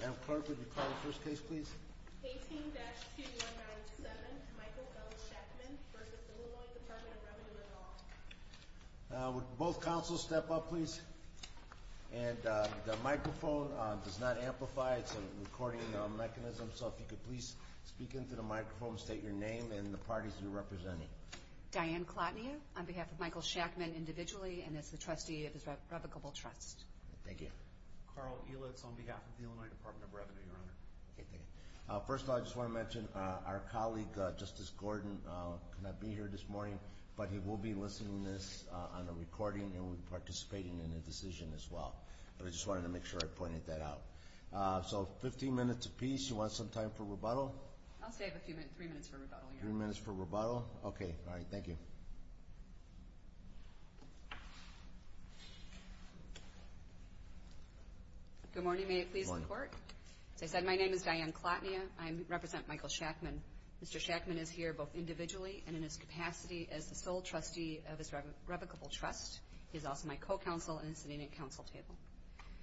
Madam Clerk, would you call the first case, please? 18-2197 Michael W. Shackman v. Illinois Department of Revenue and Law Would both counsels step up, please? And the microphone does not amplify, it's a recording mechanism, so if you could please speak into the microphone and state your name and the parties you're representing. Diane Klotnia on behalf of Michael Shackman individually and as the trustee of his revocable trust. Thank you. Carl Elitz on behalf of the Illinois Department of Revenue, Your Honor. Okay, thank you. First of all, I just want to mention our colleague, Justice Gordon, could not be here this morning, but he will be listening to this on a recording and will be participating in the decision as well. But I just wanted to make sure I pointed that out. So 15 minutes apiece. You want some time for rebuttal? I'll stay a few minutes, three minutes for rebuttal, Your Honor. Three minutes for rebuttal? Okay, all right. Thank you. Good morning. May it please the Court? Good morning. As I said, my name is Diane Klotnia. I represent Michael Shackman. Mr. Shackman is here both individually and in his capacity as the sole trustee of his revocable trust. He's also my co-counsel and is sitting at counsel table.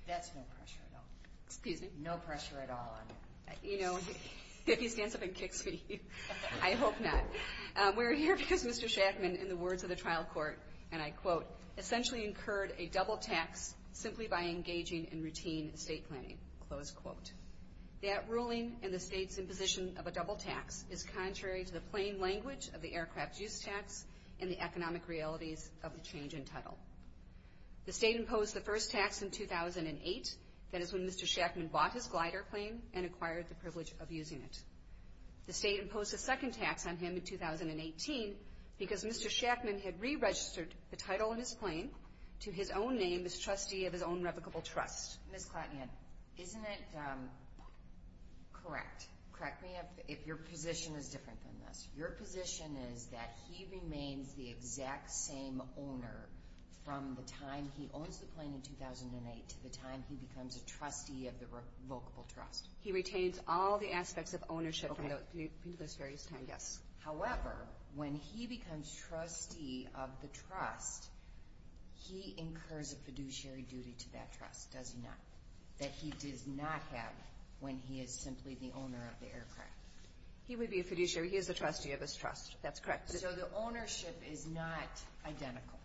That's no pressure at all. Excuse me? No pressure at all on you. You know, he stands up and kicks me. I hope not. We're here because Mr. Shackman, in the words of the trial court, and I quote, essentially incurred a double tax simply by engaging in routine estate planning. Close quote. That ruling and the state's imposition of a double tax is contrary to the plain language of the aircraft use tax and the economic realities of the change in title. The state imposed the first tax in 2008. That is when Mr. Shackman bought his glider plane and acquired the privilege of using it. The state imposed a second tax on him in 2018 because Mr. Shackman had re-registered the title on his plane to his own name as trustee of his own revocable trust. Ms. Klotnia, isn't it correct, correct me if your position is different than this, your position is that he remains the exact same owner from the time he owns the plane in 2008 to the time he becomes a trustee of the revocable trust. He retains all the aspects of ownership from those various times. However, when he becomes trustee of the trust, he incurs a fiduciary duty to that trust, does he not? That he does not have when he is simply the owner of the aircraft. He would be a fiduciary. He is a trustee of his trust. That's correct. So the ownership is not identical.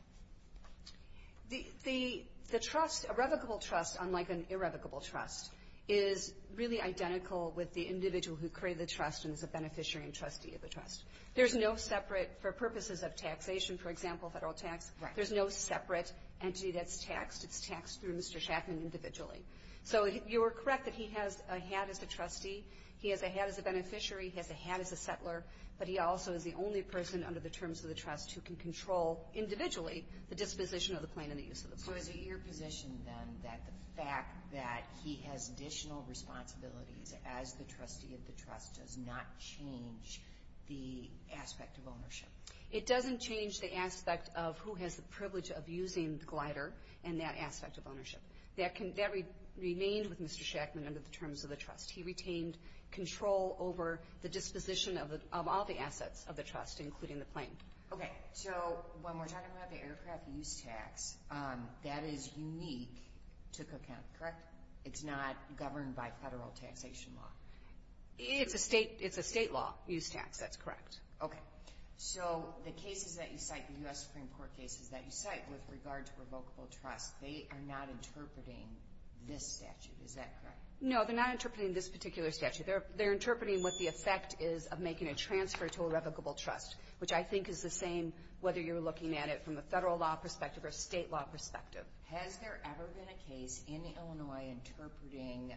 The trust, a revocable trust, unlike an irrevocable trust, is really identical with the individual who created the trust and is a beneficiary and trustee of the trust. There's no separate, for purposes of taxation, for example, Federal tax. There's no separate entity that's taxed. It's taxed through Mr. Shackman individually. So you are correct that he has a hat as a trustee. He has a hat as a beneficiary. He has a hat as a settler. But he also is the only person under the terms of the trust who can control, individually, the disposition of the plane and the use of the plane. So is it your position, then, that the fact that he has additional responsibilities as the trustee of the trust does not change the aspect of ownership? It doesn't change the aspect of who has the privilege of using the glider and that aspect of ownership. That remained with Mr. Shackman under the terms of the trust. He retained control over the disposition of all the assets of the trust, including the plane. Okay. So when we're talking about the aircraft use tax, that is unique to Cook County, correct? It's not governed by Federal taxation law. It's a State law use tax. That's correct. Okay. So the cases that you cite, the U.S. Supreme Court cases that you cite with regard to revocable trust, they are not interpreting this statute. Is that correct? No, they're not interpreting this particular statute. They're interpreting what the effect is of making a transfer to a revocable trust, which I think is the same whether you're looking at it from a Federal law perspective or a State law perspective. Has there ever been a case in Illinois interpreting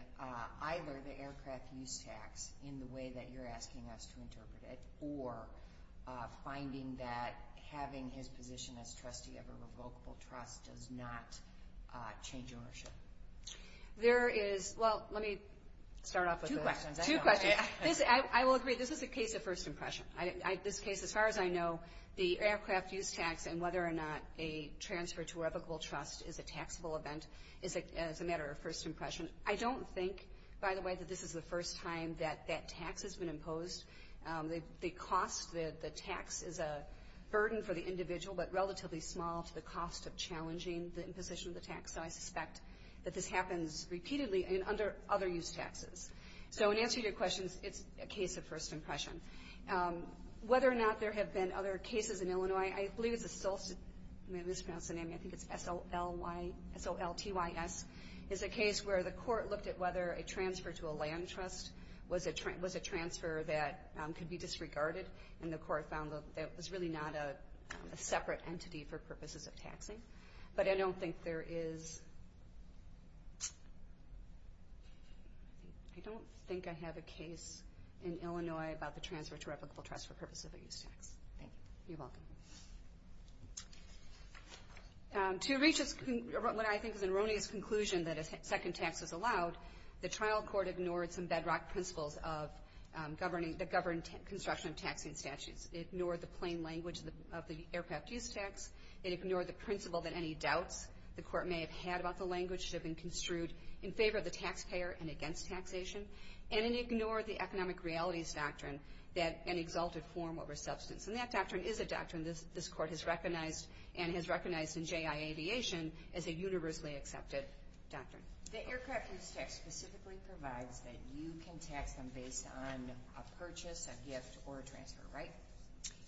either the aircraft use tax in the way that you're asking us to interpret it or finding that having his position as trustee of a revocable trust does not change ownership? There is – well, let me start off with two questions. Two questions. I will agree, this is a case of first impression. This case, as far as I know, the aircraft use tax and whether or not a transfer to a revocable trust is a taxable event is a matter of first impression. I don't think, by the way, that this is the first time that that tax has been imposed. The cost, the tax is a burden for the individual but relatively small to the cost of challenging the imposition of the tax. So I suspect that this happens repeatedly and under other use taxes. So in answering your questions, it's a case of first impression. Whether or not there have been other cases in Illinois, I believe it's a – I mispronounced the name, I think it's S-O-L-T-Y-S – is a case where the court looked at whether a transfer to a land trust was a transfer that could be disregarded and the court found that it was really not a separate entity for purposes of taxing. But I don't think there is – I don't think I have a case in Illinois about the transfer to a revocable trust for purposes of a use tax. Thank you. You're welcome. To reach what I think is an erroneous conclusion that a second tax is allowed, the trial court ignored some bedrock principles of governing – that govern construction of taxing statutes. It ignored the plain language of the aircraft use tax. It ignored the principle that any doubts the court may have had about the language should have been construed in favor of the taxpayer and against taxation. And it ignored the economic realities doctrine that an exalted form over substance. And that doctrine is a doctrine this court has recognized and has recognized in J.I. Aviation as a universally accepted doctrine. The aircraft use tax specifically provides that you can tax them based on a purchase, a gift, or a transfer, right?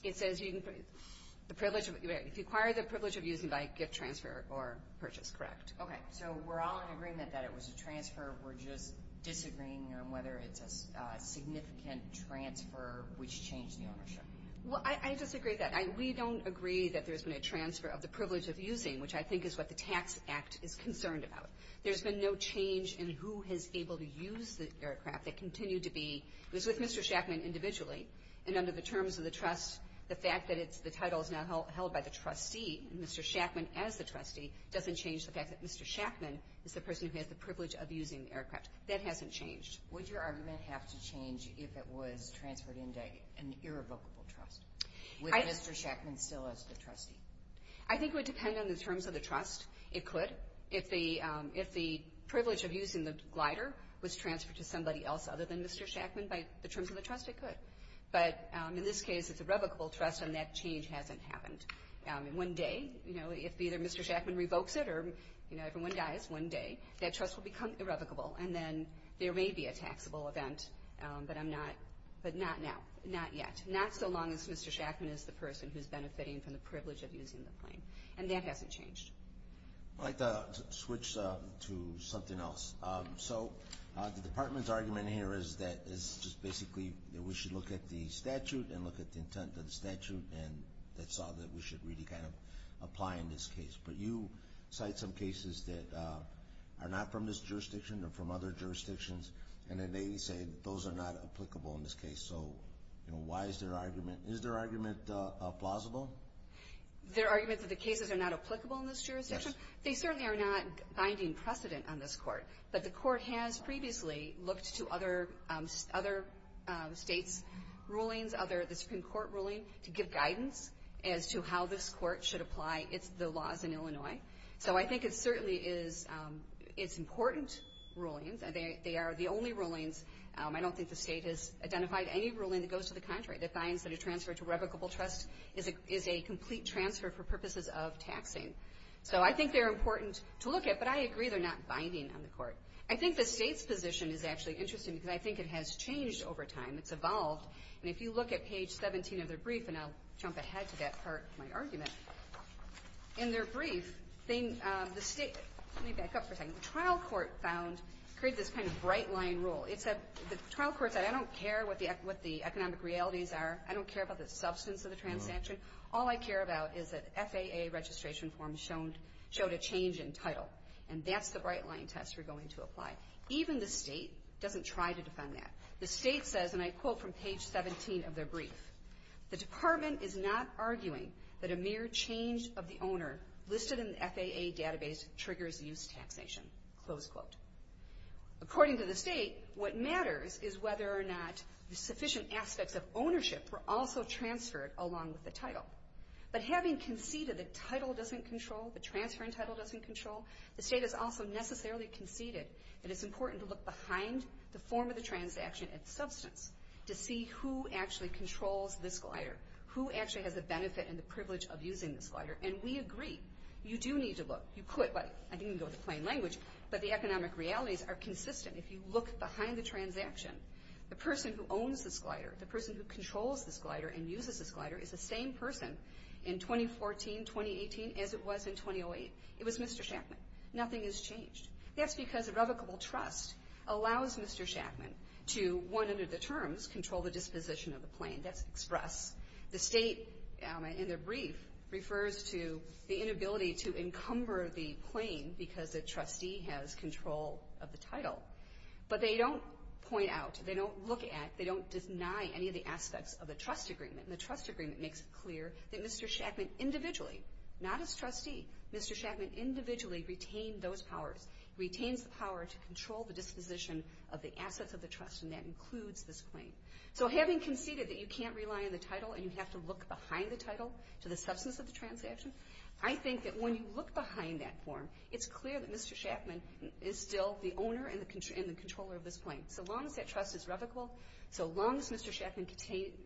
It says you can – the privilege of – right. If you acquire the privilege of using by gift, transfer, or purchase, correct. Okay. So we're all in agreement that it was a transfer. We're just disagreeing on whether it's a significant transfer which changed the ownership. Well, I disagree with that. We don't agree that there's been a transfer of the privilege of using, which I think is what the Tax Act is concerned about. There's been no change in who has been able to use the aircraft. It continued to be – it was with Mr. Shackman individually. And under the terms of the trust, the fact that the title is now held by the trustee, Mr. Shackman as the trustee, doesn't change the fact that Mr. Shackman is the person who has the privilege of using the aircraft. That hasn't changed. Would your argument have to change if it was transferred into an irrevocable trust? Would Mr. Shackman still as the trustee? I think it would depend on the terms of the trust. It could. If the privilege of using the glider was transferred to somebody else other than Mr. Shackman by the terms of the trust, it could. But in this case, it's a revocable trust, and that change hasn't happened. One day, you know, if either Mr. Shackman revokes it or, you know, everyone dies one day, that trust will become irrevocable, and then there may be a taxable event. But I'm not – but not now. Not yet. Not so long as Mr. Shackman is the person who's benefiting from the privilege of using the plane. And that hasn't changed. I'd like to switch to something else. So the Department's argument here is that it's just basically that we should look at the statute and look at the intent of the statute, and that's all that we should really kind of apply in this case. But you cite some cases that are not from this jurisdiction, they're from other jurisdictions, and then they say that those are not applicable in this case. So, you know, why is their argument – is their argument plausible? Their argument that the cases are not applicable in this jurisdiction? Yes. They certainly are not finding precedent on this court, but the court has previously looked to other states' rulings, other – the Supreme Court ruling, to give guidance as to how this court should apply the laws in Illinois. So I think it certainly is – it's important rulings. They are the only rulings. I don't think the state has identified any ruling that goes to the contrary, that finds that a transfer to revocable trust is a complete transfer for purposes of taxing. So I think they're important to look at, but I agree they're not binding on the court. I think the state's position is actually interesting because I think it has changed over time. It's evolved. And if you look at page 17 of their brief, and I'll jump ahead to that part of my argument, in their brief, they – the state – let me back up for a second. The trial court found – created this kind of bright-line rule. It said – the trial court said, I don't care what the economic realities are. I don't care about the substance of the transaction. All I care about is that FAA registration forms showed a change in title, and that's the bright-line test we're going to apply. Even the state doesn't try to defend that. The state says, and I quote from page 17 of their brief, the department is not arguing that a mere change of the owner listed in the FAA database triggers use taxation, close quote. According to the state, what matters is whether or not the sufficient aspects of ownership were also transferred along with the title. But having conceded that title doesn't control, the transfer in title doesn't control, the state has also necessarily conceded that it's important to look behind the form of the transaction and substance to see who actually controls this glider, who actually has the benefit and the privilege of using this glider. And we agree. You do need to look. You could – well, I think you can go with the plain language, but the economic realities are consistent. If you look behind the transaction, the person who owns this glider, the person who controls this glider and uses this glider, is the same person in 2014, 2018, as it was in 2008. It was Mr. Shackman. Nothing has changed. That's because a revocable trust allows Mr. Shackman to, one, under the terms, control the disposition of the plane. That's express. The state, in their brief, refers to the inability to encumber the plane because the trustee has control of the title. But they don't point out. They don't look at. They don't deny any of the aspects of the trust agreement. And the trust agreement makes it clear that Mr. Shackman individually, not as trustee, Mr. Shackman individually retained those powers, retains the power to control the disposition of the assets of the trust, and that includes this plane. So having conceded that you can't rely on the title and you have to look behind the title to the substance of the transaction, I think that when you look behind that form, it's clear that Mr. Shackman is still the owner and the controller of this plane. So long as that trust is revocable, so long as Mr. Shackman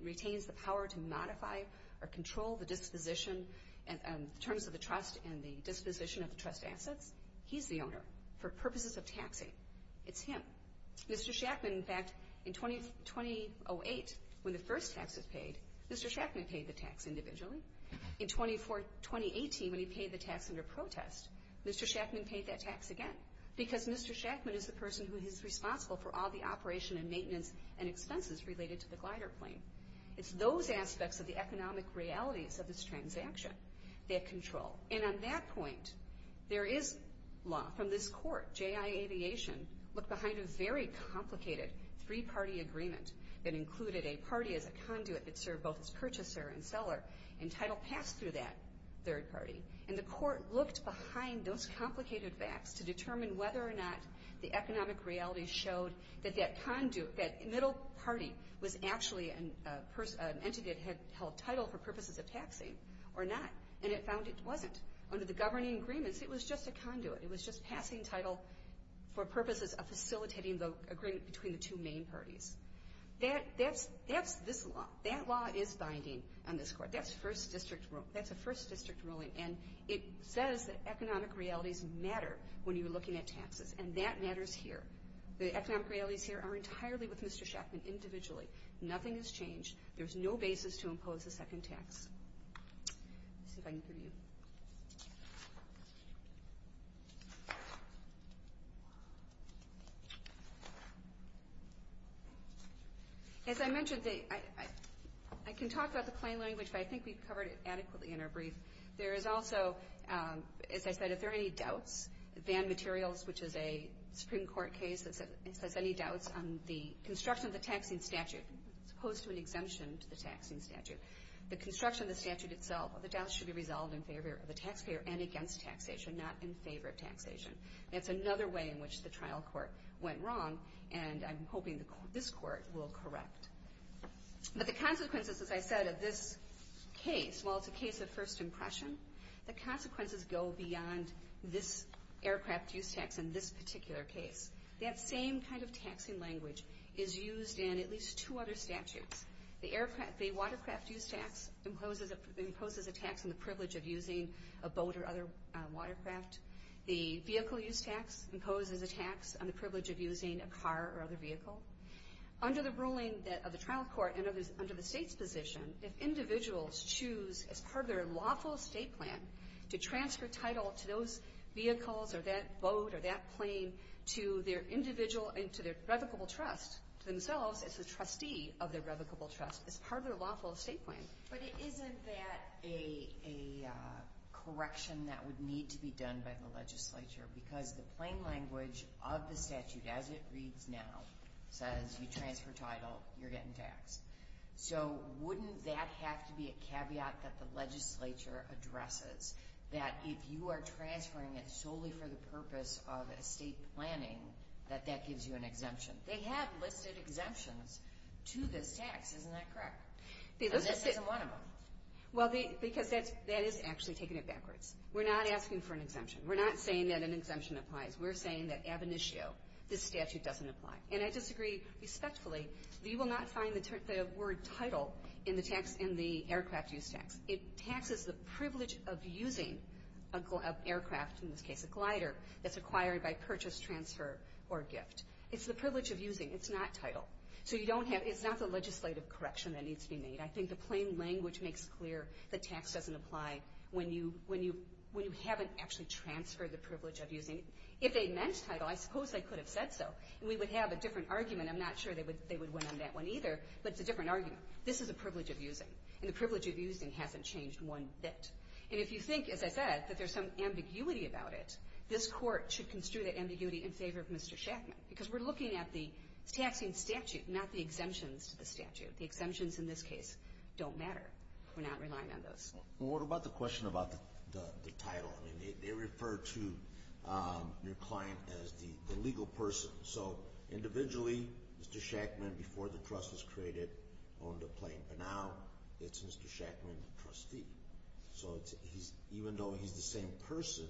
retains the power to modify or control the disposition in terms of the trust and the disposition of the trust assets, he's the owner for purposes of taxing. It's him. Mr. Shackman, in fact, in 2008, when the first taxes paid, Mr. Shackman paid the tax individually. In 2018, when he paid the tax under protest, Mr. Shackman paid that tax again because Mr. Shackman is the person who is responsible for all the operation and maintenance and expenses related to the glider plane. It's those aspects of the economic realities of this transaction that control. And on that point, there is law. From this court, J.I. Aviation looked behind a very complicated three-party agreement that included a party as a conduit that served both as purchaser and seller and title passed through that third party. And the court looked behind those complicated facts to determine whether or not the economic realities showed that that conduit, that middle party was actually an entity that had held title for purposes of taxing or not. And it found it wasn't. Under the governing agreements, it was just a conduit. It was just passing title for purposes of facilitating the agreement between the two main parties. That's this law. That law is binding on this court. That's first district rule. That's a first district ruling. And it says that economic realities matter when you're looking at taxes, and that matters here. The economic realities here are entirely with Mr. Shackman individually. Nothing has changed. There's no basis to impose a second tax. Let's see if I can give you. As I mentioned, I can talk about the plain language, but I think we've covered it adequately in our brief. There is also, as I said, if there are any doubts, Van Materials, which is a Supreme Court case that says any doubts on the construction of the taxing statute or the construction of the statute itself, the doubts should be resolved in favor of the taxpayer and against taxation, not in favor of taxation. That's another way in which the trial court went wrong, and I'm hoping this court will correct. But the consequences, as I said, of this case, while it's a case of first impression, the consequences go beyond this aircraft use tax in this particular case. That same kind of taxing language is used in at least two other statutes. The watercraft use tax imposes a tax on the privilege of using a boat or other watercraft. The vehicle use tax imposes a tax on the privilege of using a car or other vehicle. Under the ruling of the trial court and under the state's position, if individuals choose as part of their lawful estate plan to transfer title to those vehicles or that boat or that plane to their individual and to their revocable trust, to themselves as the trustee of their revocable trust, as part of their lawful estate plan. But isn't that a correction that would need to be done by the legislature? Because the plain language of the statute, as it reads now, says you transfer title, you're getting taxed. So wouldn't that have to be a caveat that the legislature addresses, that if you are transferring it solely for the purpose of estate planning, that that gives you an exemption? They have listed exemptions to this tax, isn't that correct? And this isn't one of them. Well, because that is actually taking it backwards. We're not asking for an exemption. We're not saying that an exemption applies. We're saying that ab initio, this statute doesn't apply. And I disagree respectfully that you will not find the word title in the aircraft use tax. It taxes the privilege of using an aircraft, in this case a glider, that's acquired by purchase, transfer, or gift. It's the privilege of using. It's not title. So you don't have, it's not the legislative correction that needs to be made. I think the plain language makes clear that tax doesn't apply when you haven't actually transferred the privilege of using it. If they meant title, I suppose they could have said so, and we would have a different argument. I'm not sure they would win on that one either, but it's a different argument. This is a privilege of using, and the privilege of using hasn't changed one bit. And if you think, as I said, that there's some ambiguity about it, this Court should construe that ambiguity in favor of Mr. Shackman, because we're looking at the taxing statute, not the exemptions to the statute. The exemptions in this case don't matter. We're not relying on those. Well, what about the question about the title? I mean, they refer to your client as the legal person. So individually, Mr. Shackman, before the trust was created, owned a plain. But now it's Mr. Shackman, the trustee. So even though he's the same person,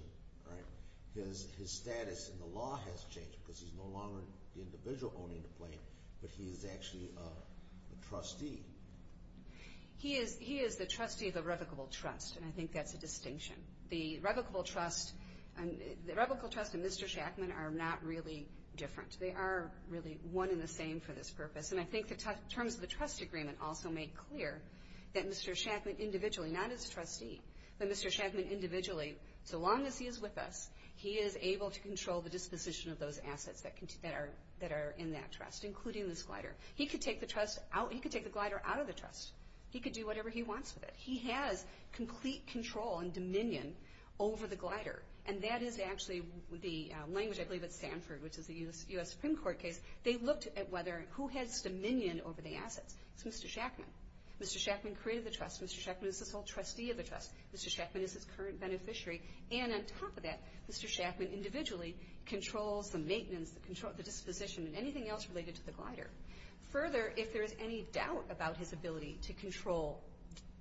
his status in the law has changed, because he's no longer the individual owning the plain, but he's actually a trustee. He is the trustee of the revocable trust, and I think that's a distinction. The revocable trust and Mr. Shackman are not really different. They are really one and the same for this purpose. And I think the terms of the trust agreement also make clear that Mr. Shackman individually, not as a trustee, but Mr. Shackman individually, so long as he is with us, he is able to control the disposition of those assets that are in that trust, including this glider. He could take the trust out. He could take the glider out of the trust. He could do whatever he wants with it. He has complete control and dominion over the glider. And that is actually the language, I believe, at Stanford, which is the U.S. Supreme Court case. They looked at whether who has dominion over the assets. It's Mr. Shackman. Mr. Shackman created the trust. Mr. Shackman is the sole trustee of the trust. Mr. Shackman is his current beneficiary. And on top of that, Mr. Shackman individually controls the maintenance, the disposition, and anything else related to the glider. Further, if there is any doubt about his ability to control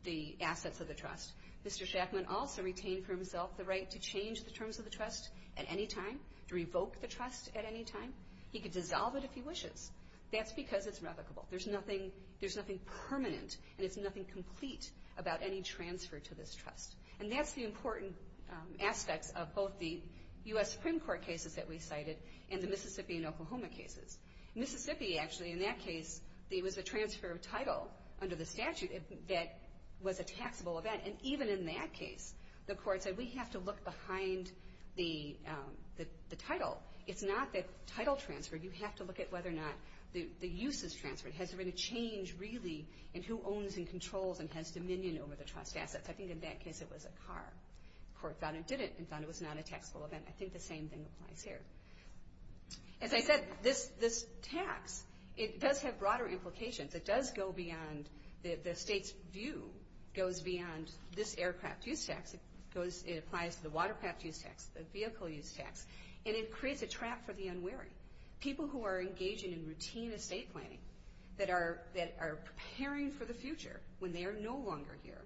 the assets of the trust, Mr. Shackman also retained for himself the right to change the terms of the trust at any time, to revoke the trust at any time. He could dissolve it if he wishes. That's because it's revocable. There's nothing permanent, and it's nothing complete about any transfer to this trust. And that's the important aspects of both the U.S. Supreme Court cases that we cited and the Mississippi and Oklahoma cases. Mississippi, actually, in that case, there was a transfer of title under the statute that was a taxable event. And even in that case, the court said we have to look behind the title. It's not the title transfer. You have to look at whether or not the use is transferred. Has there been a change, really, in who owns and controls and has dominion over the trust assets? I think in that case it was a car. The court found it didn't and found it was not a taxable event. I think the same thing applies here. As I said, this tax, it does have broader implications. It does go beyond the state's view. It goes beyond this aircraft use tax. It applies to the watercraft use tax, the vehicle use tax. And it creates a trap for the unwary, people who are engaging in routine estate planning that are preparing for the future when they are no longer here.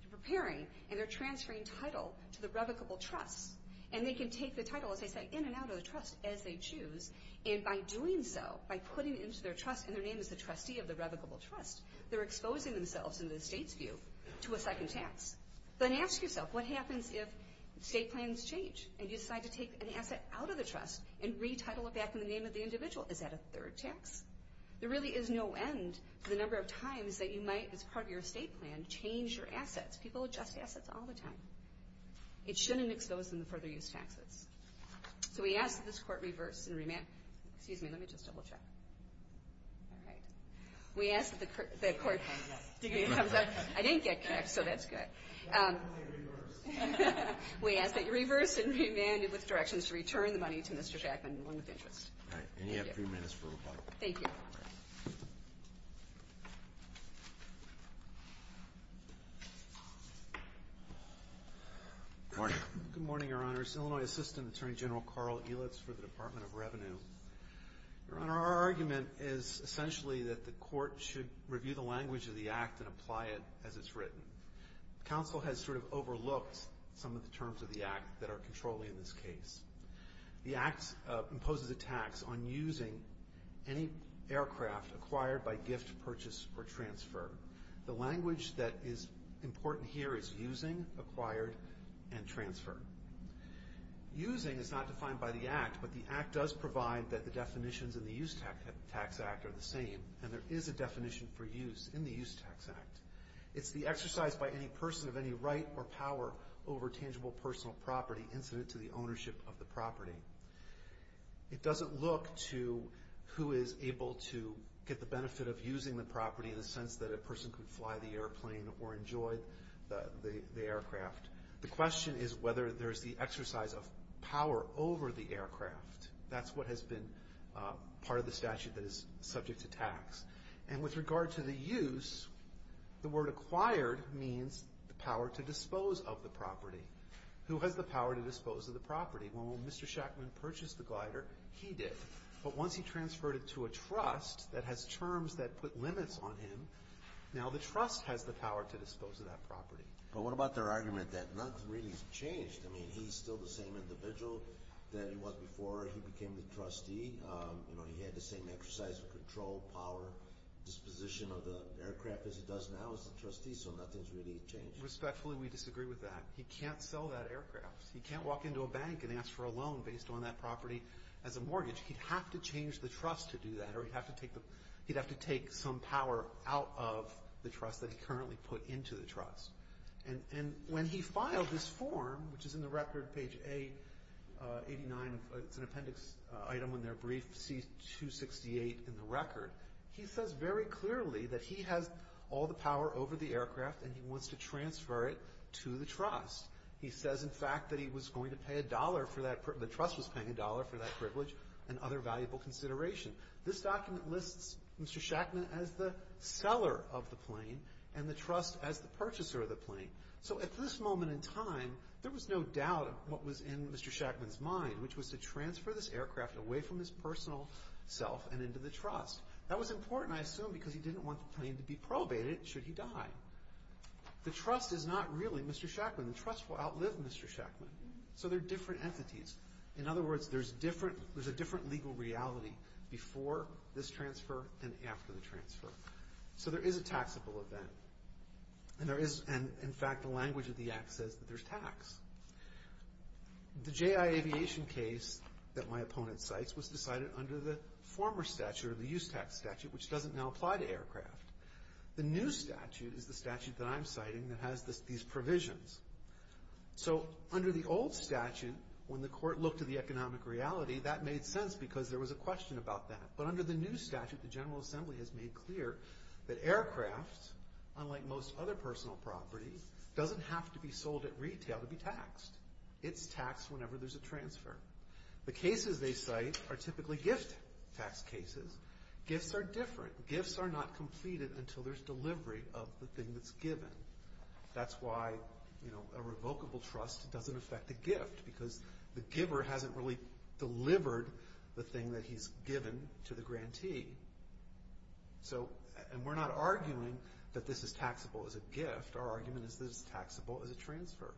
They're preparing, and they're transferring title to the revocable trust. And they can take the title, as I said, in and out of the trust as they choose. And by doing so, by putting it into their trust, and their name is the trustee of the revocable trust, they're exposing themselves, in the state's view, to a second tax. Then ask yourself, what happens if estate plans change and you decide to take an asset out of the trust and retitle it back in the name of the individual? Is that a third tax? There really is no end to the number of times that you might, as part of your estate plan, change your assets. People adjust assets all the time. It shouldn't expose them to further use taxes. So we ask that this court reverse and remand. Excuse me, let me just double check. All right. We ask that the court. I didn't get kicked, so that's good. We ask that you reverse and remand with directions to return the money to Mr. Jackman, the one with interest. And you have three minutes for rebuttal. Thank you. Good morning. Good morning, Your Honors. Illinois Assistant Attorney General Carl Elitz for the Department of Revenue. Your Honor, our argument is essentially that the court should review the language of the Act and apply it as it's written. Counsel has sort of overlooked some of the terms of the Act that are controlling this case. The Act imposes a tax on using any aircraft acquired by gift, purchase, or transfer. The language that is important here is using, acquired, and transfer. Using is not defined by the Act, but the Act does provide that the definitions in the Use Tax Act are the same. And there is a definition for use in the Use Tax Act. It's the exercise by any person of any right or power over tangible personal property incident to the ownership of the property. It doesn't look to who is able to get the benefit of using the property in the sense that a person could fly the airplane or enjoy the aircraft. The question is whether there is the exercise of power over the aircraft. That's what has been part of the statute that is subject to tax. And with regard to the use, the word acquired means the power to dispose of the property. Who has the power to dispose of the property? Well, when Mr. Shackman purchased the glider, he did. But once he transferred it to a trust that has terms that put limits on him, now the trust has the power to dispose of that property. But what about their argument that nothing really has changed? I mean, he's still the same individual that he was before he became the trustee. You know, he had the same exercise of control, power, disposition of the aircraft as he does now as the trustee, so nothing's really changed. Respectfully, we disagree with that. He can't sell that aircraft. He can't walk into a bank and ask for a loan based on that property as a mortgage. He'd have to change the trust to do that, or he'd have to take some power out of the trust that he currently put into the trust. And when he filed this form, which is in the record, page A89, it's an appendix item in their brief, C268 in the record, he says very clearly that he has all the power over the aircraft and he wants to transfer it to the trust. He says, in fact, that he was going to pay a dollar for that, the trust was paying a dollar for that privilege and other valuable consideration. This document lists Mr. Shackman as the seller of the plane and the trust as the purchaser of the plane. So at this moment in time, there was no doubt of what was in Mr. Shackman's mind, which was to transfer this aircraft away from his personal self and into the trust. That was important, I assume, because he didn't want the plane to be probated should he die. The trust is not really Mr. Shackman. The trust will outlive Mr. Shackman. So they're different entities. In other words, there's a different legal reality before this transfer than after the transfer. So there is a taxable event. And there is, in fact, the language of the Act says that there's tax. The J.I. Aviation case that my opponent cites was decided under the former statute or the use tax statute, which doesn't now apply to aircraft. The new statute is the statute that I'm citing that has these provisions. So under the old statute, when the court looked at the economic reality, that made sense because there was a question about that. But under the new statute, the General Assembly has made clear that aircraft, unlike most other personal property, doesn't have to be sold at retail to be taxed. It's taxed whenever there's a transfer. The cases they cite are typically gift tax cases. Gifts are different. Gifts are not completed until there's delivery of the thing that's given. That's why a revocable trust doesn't affect the gift because the giver hasn't really delivered the thing that he's given to the grantee. And we're not arguing that this is taxable as a gift. Our argument is that it's taxable as a transfer.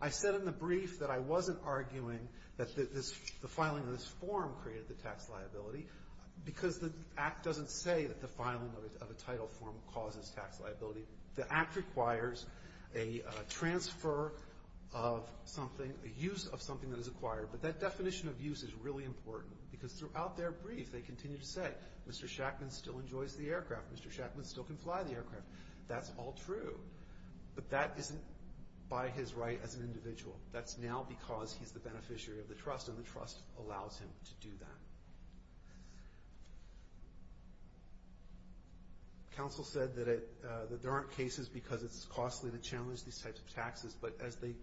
I said in the brief that I wasn't arguing that the filing of this form created the tax liability because the Act doesn't say that the filing of a title form causes tax liability. The Act requires a transfer of something, a use of something that is acquired. But that definition of use is really important because throughout their brief, they continue to say Mr. Shackman still enjoys the aircraft. Mr. Shackman still can fly the aircraft. That's all true. But that isn't by his right as an individual. That's now because he's the beneficiary of the trust, and the trust allows him to do that. Counsel said that there aren't cases because it's costly to challenge these types of taxes, but as they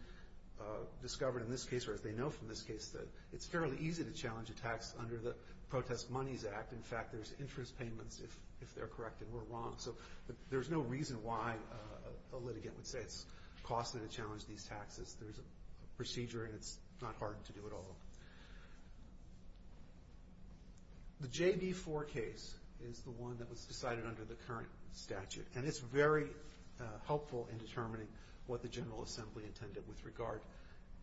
discovered in this case or as they know from this case, it's fairly easy to challenge a tax under the Protest Monies Act. In fact, there's interest payments if they're correct and we're wrong. So there's no reason why a litigant would say it's costly to challenge these taxes. There's a procedure and it's not hard to do it all. The JB4 case is the one that was decided under the current statute, and it's very helpful in determining what the General Assembly intended with regard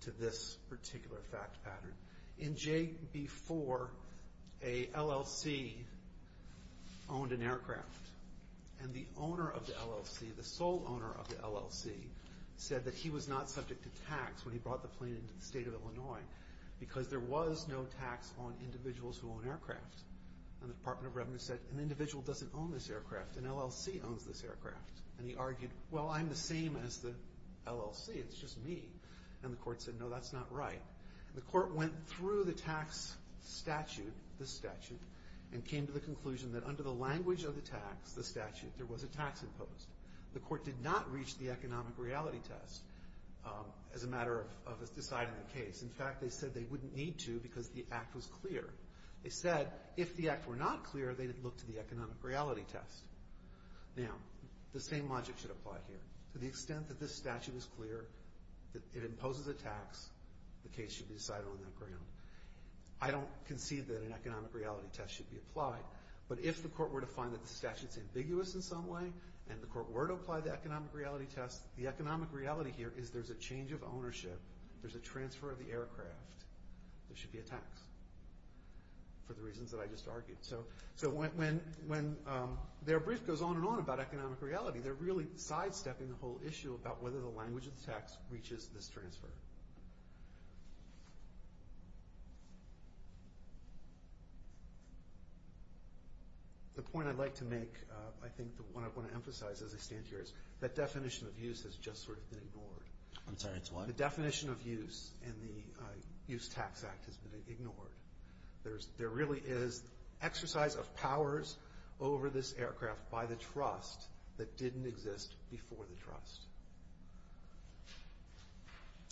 to this particular fact pattern. In JB4, an LLC owned an aircraft, and the owner of the LLC, the sole owner of the LLC, said that he was not subject to tax when he brought the plane into the state of Illinois because there was no tax on individuals who own aircraft. And the Department of Revenue said, an individual doesn't own this aircraft. An LLC owns this aircraft. And he argued, well, I'm the same as the LLC. It's just me. And the court said, no, that's not right. The court went through the tax statute, this statute, and came to the conclusion that under the language of the statute, there was a tax imposed. The court did not reach the economic reality test as a matter of deciding the case. In fact, they said they wouldn't need to because the act was clear. They said if the act were not clear, they'd look to the economic reality test. Now, the same logic should apply here. To the extent that this statute is clear, it imposes a tax, the case should be decided on that ground. I don't concede that an economic reality test should be applied, but if the court were to find that the statute is ambiguous in some way and the court were to apply the economic reality test, the economic reality here is there's a change of ownership. There's a transfer of the aircraft. There should be a tax for the reasons that I just argued. So when their brief goes on and on about economic reality, they're really sidestepping the whole issue about whether the language of the tax reaches this transfer. The point I'd like to make, I think the one I want to emphasize as I stand here, is that definition of use has just sort of been ignored. I'm sorry, it's what? The definition of use in the Use Tax Act has been ignored. There really is exercise of powers over this aircraft by the trust that didn't exist before the trust.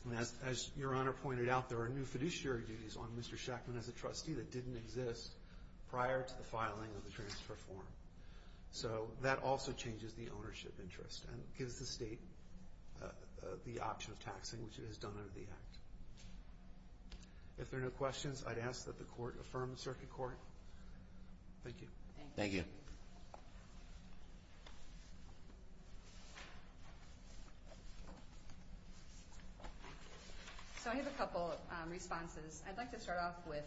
And as Your Honor pointed out, there are new fiduciary duties on Mr. Shackman as a trustee that didn't exist prior to the filing of the transfer form. So that also changes the ownership interest and gives the state the option of taxing, which it has done under the Act. If there are no questions, I'd ask that the Court affirm the Circuit Court. Thank you. Thank you. So I have a couple of responses. I'd like to start off with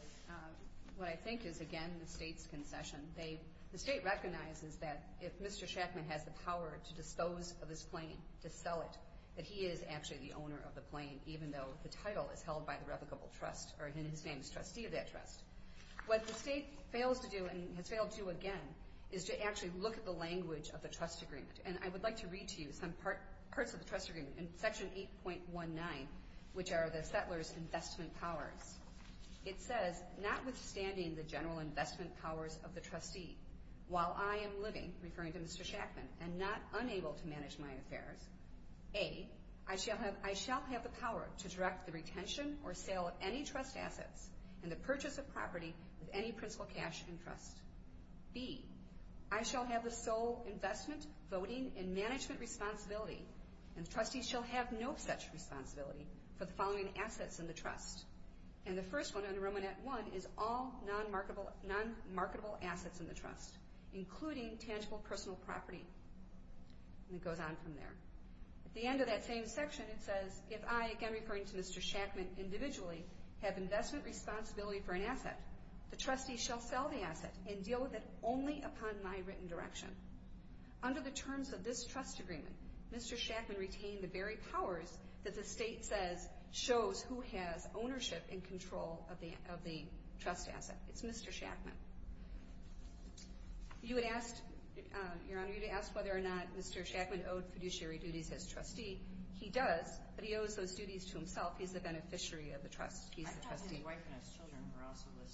what I think is, again, the state's concession. The state recognizes that if Mr. Shackman has the power to dispose of his plane, to sell it, that he is actually the owner of the plane, even though the title is held by the replicable trust or his name is trustee of that trust. What the state fails to do and has failed to do again is to actually look at the language of the trust agreement. And I would like to read to you some parts of the trust agreement in Section 8.19, which are the settler's investment powers. It says, notwithstanding the general investment powers of the trustee, while I am living, referring to Mr. Shackman, and not unable to manage my affairs, A, I shall have the power to direct the retention or sale of any trust assets and the purchase of property with any principal cash in trust. B, I shall have the sole investment, voting, and management responsibility, and the trustees shall have no such responsibility for the following assets in the trust. And the first one under Romanet I is all non-marketable assets in the trust, including tangible personal property. And it goes on from there. At the end of that same section, it says, if I, again referring to Mr. Shackman individually, have investment responsibility for an asset, the trustee shall sell the asset and deal with it only upon my written direction. Under the terms of this trust agreement, Mr. Shackman retained the very powers that the state says shows who has ownership and control of the trust asset. It's Mr. Shackman. You had asked, Your Honor, you had asked whether or not Mr. Shackman owed fiduciary duties as trustee. He does, but he owes those duties to himself. He's the beneficiary of the trust. He's the trustee.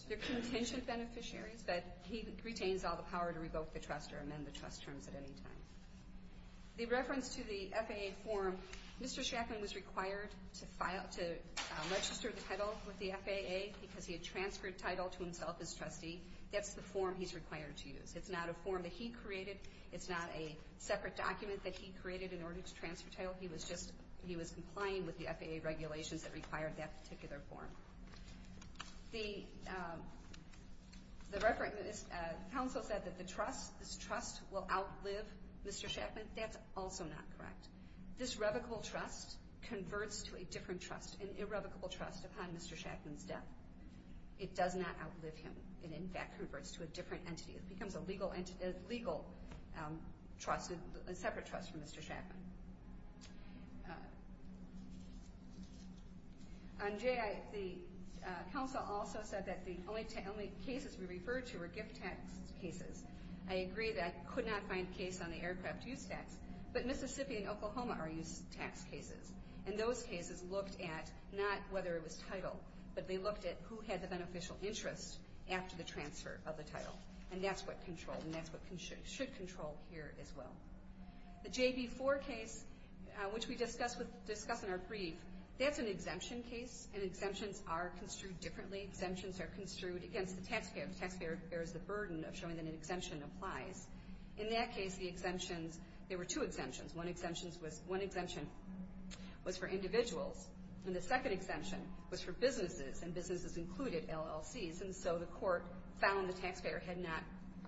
They're contingent beneficiaries, but he retains all the power to revoke the trust or amend the trust terms at any time. The reference to the FAA form, Mr. Shackman was required to register the title with the FAA because he had transferred title to himself as trustee. That's the form he's required to use. It's not a form that he created. It's not a separate document that he created in order to transfer title. He was just, he was complying with the FAA regulations that required that particular form. The reference, the counsel said that the trust, this trust will outlive Mr. Shackman. That's also not correct. This revocable trust converts to a different trust, an irrevocable trust upon Mr. Shackman's death. It does not outlive him. It, in fact, converts to a different entity. It becomes a legal trust, a separate trust from Mr. Shackman. The counsel also said that the only cases we referred to were gift tax cases. I agree that I could not find a case on the aircraft use tax, but Mississippi and Oklahoma are use tax cases. And those cases looked at not whether it was title, but they looked at who had the beneficial interest after the transfer of the title. And that's what control, and that's what should control here as well. The JB4 case, which we discuss in our brief, that's an exemption case, and exemptions are construed differently. Exemptions are construed against the taxpayer. There is the burden of showing that an exemption applies. In that case, the exemptions, there were two exemptions. One exemption was for individuals, and the second exemption was for businesses, and businesses included LLCs. And so the court found the taxpayer had not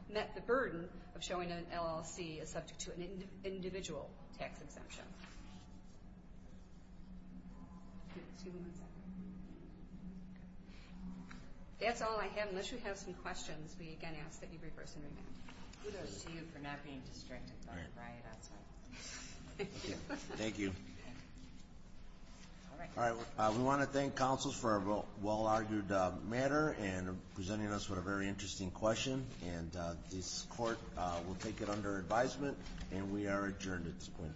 met the burden of showing an LLC as subject to an individual tax exemption. Excuse me one second. That's all I have. Unless you have some questions, we again ask that you brief us in remand. Kudos to you for not being distracted by the riot outside. Thank you. Thank you. All right. We want to thank counsels for a well-argued matter and presenting us with a very interesting question. And this court will take it under advisement, and we are adjourned at this point in time.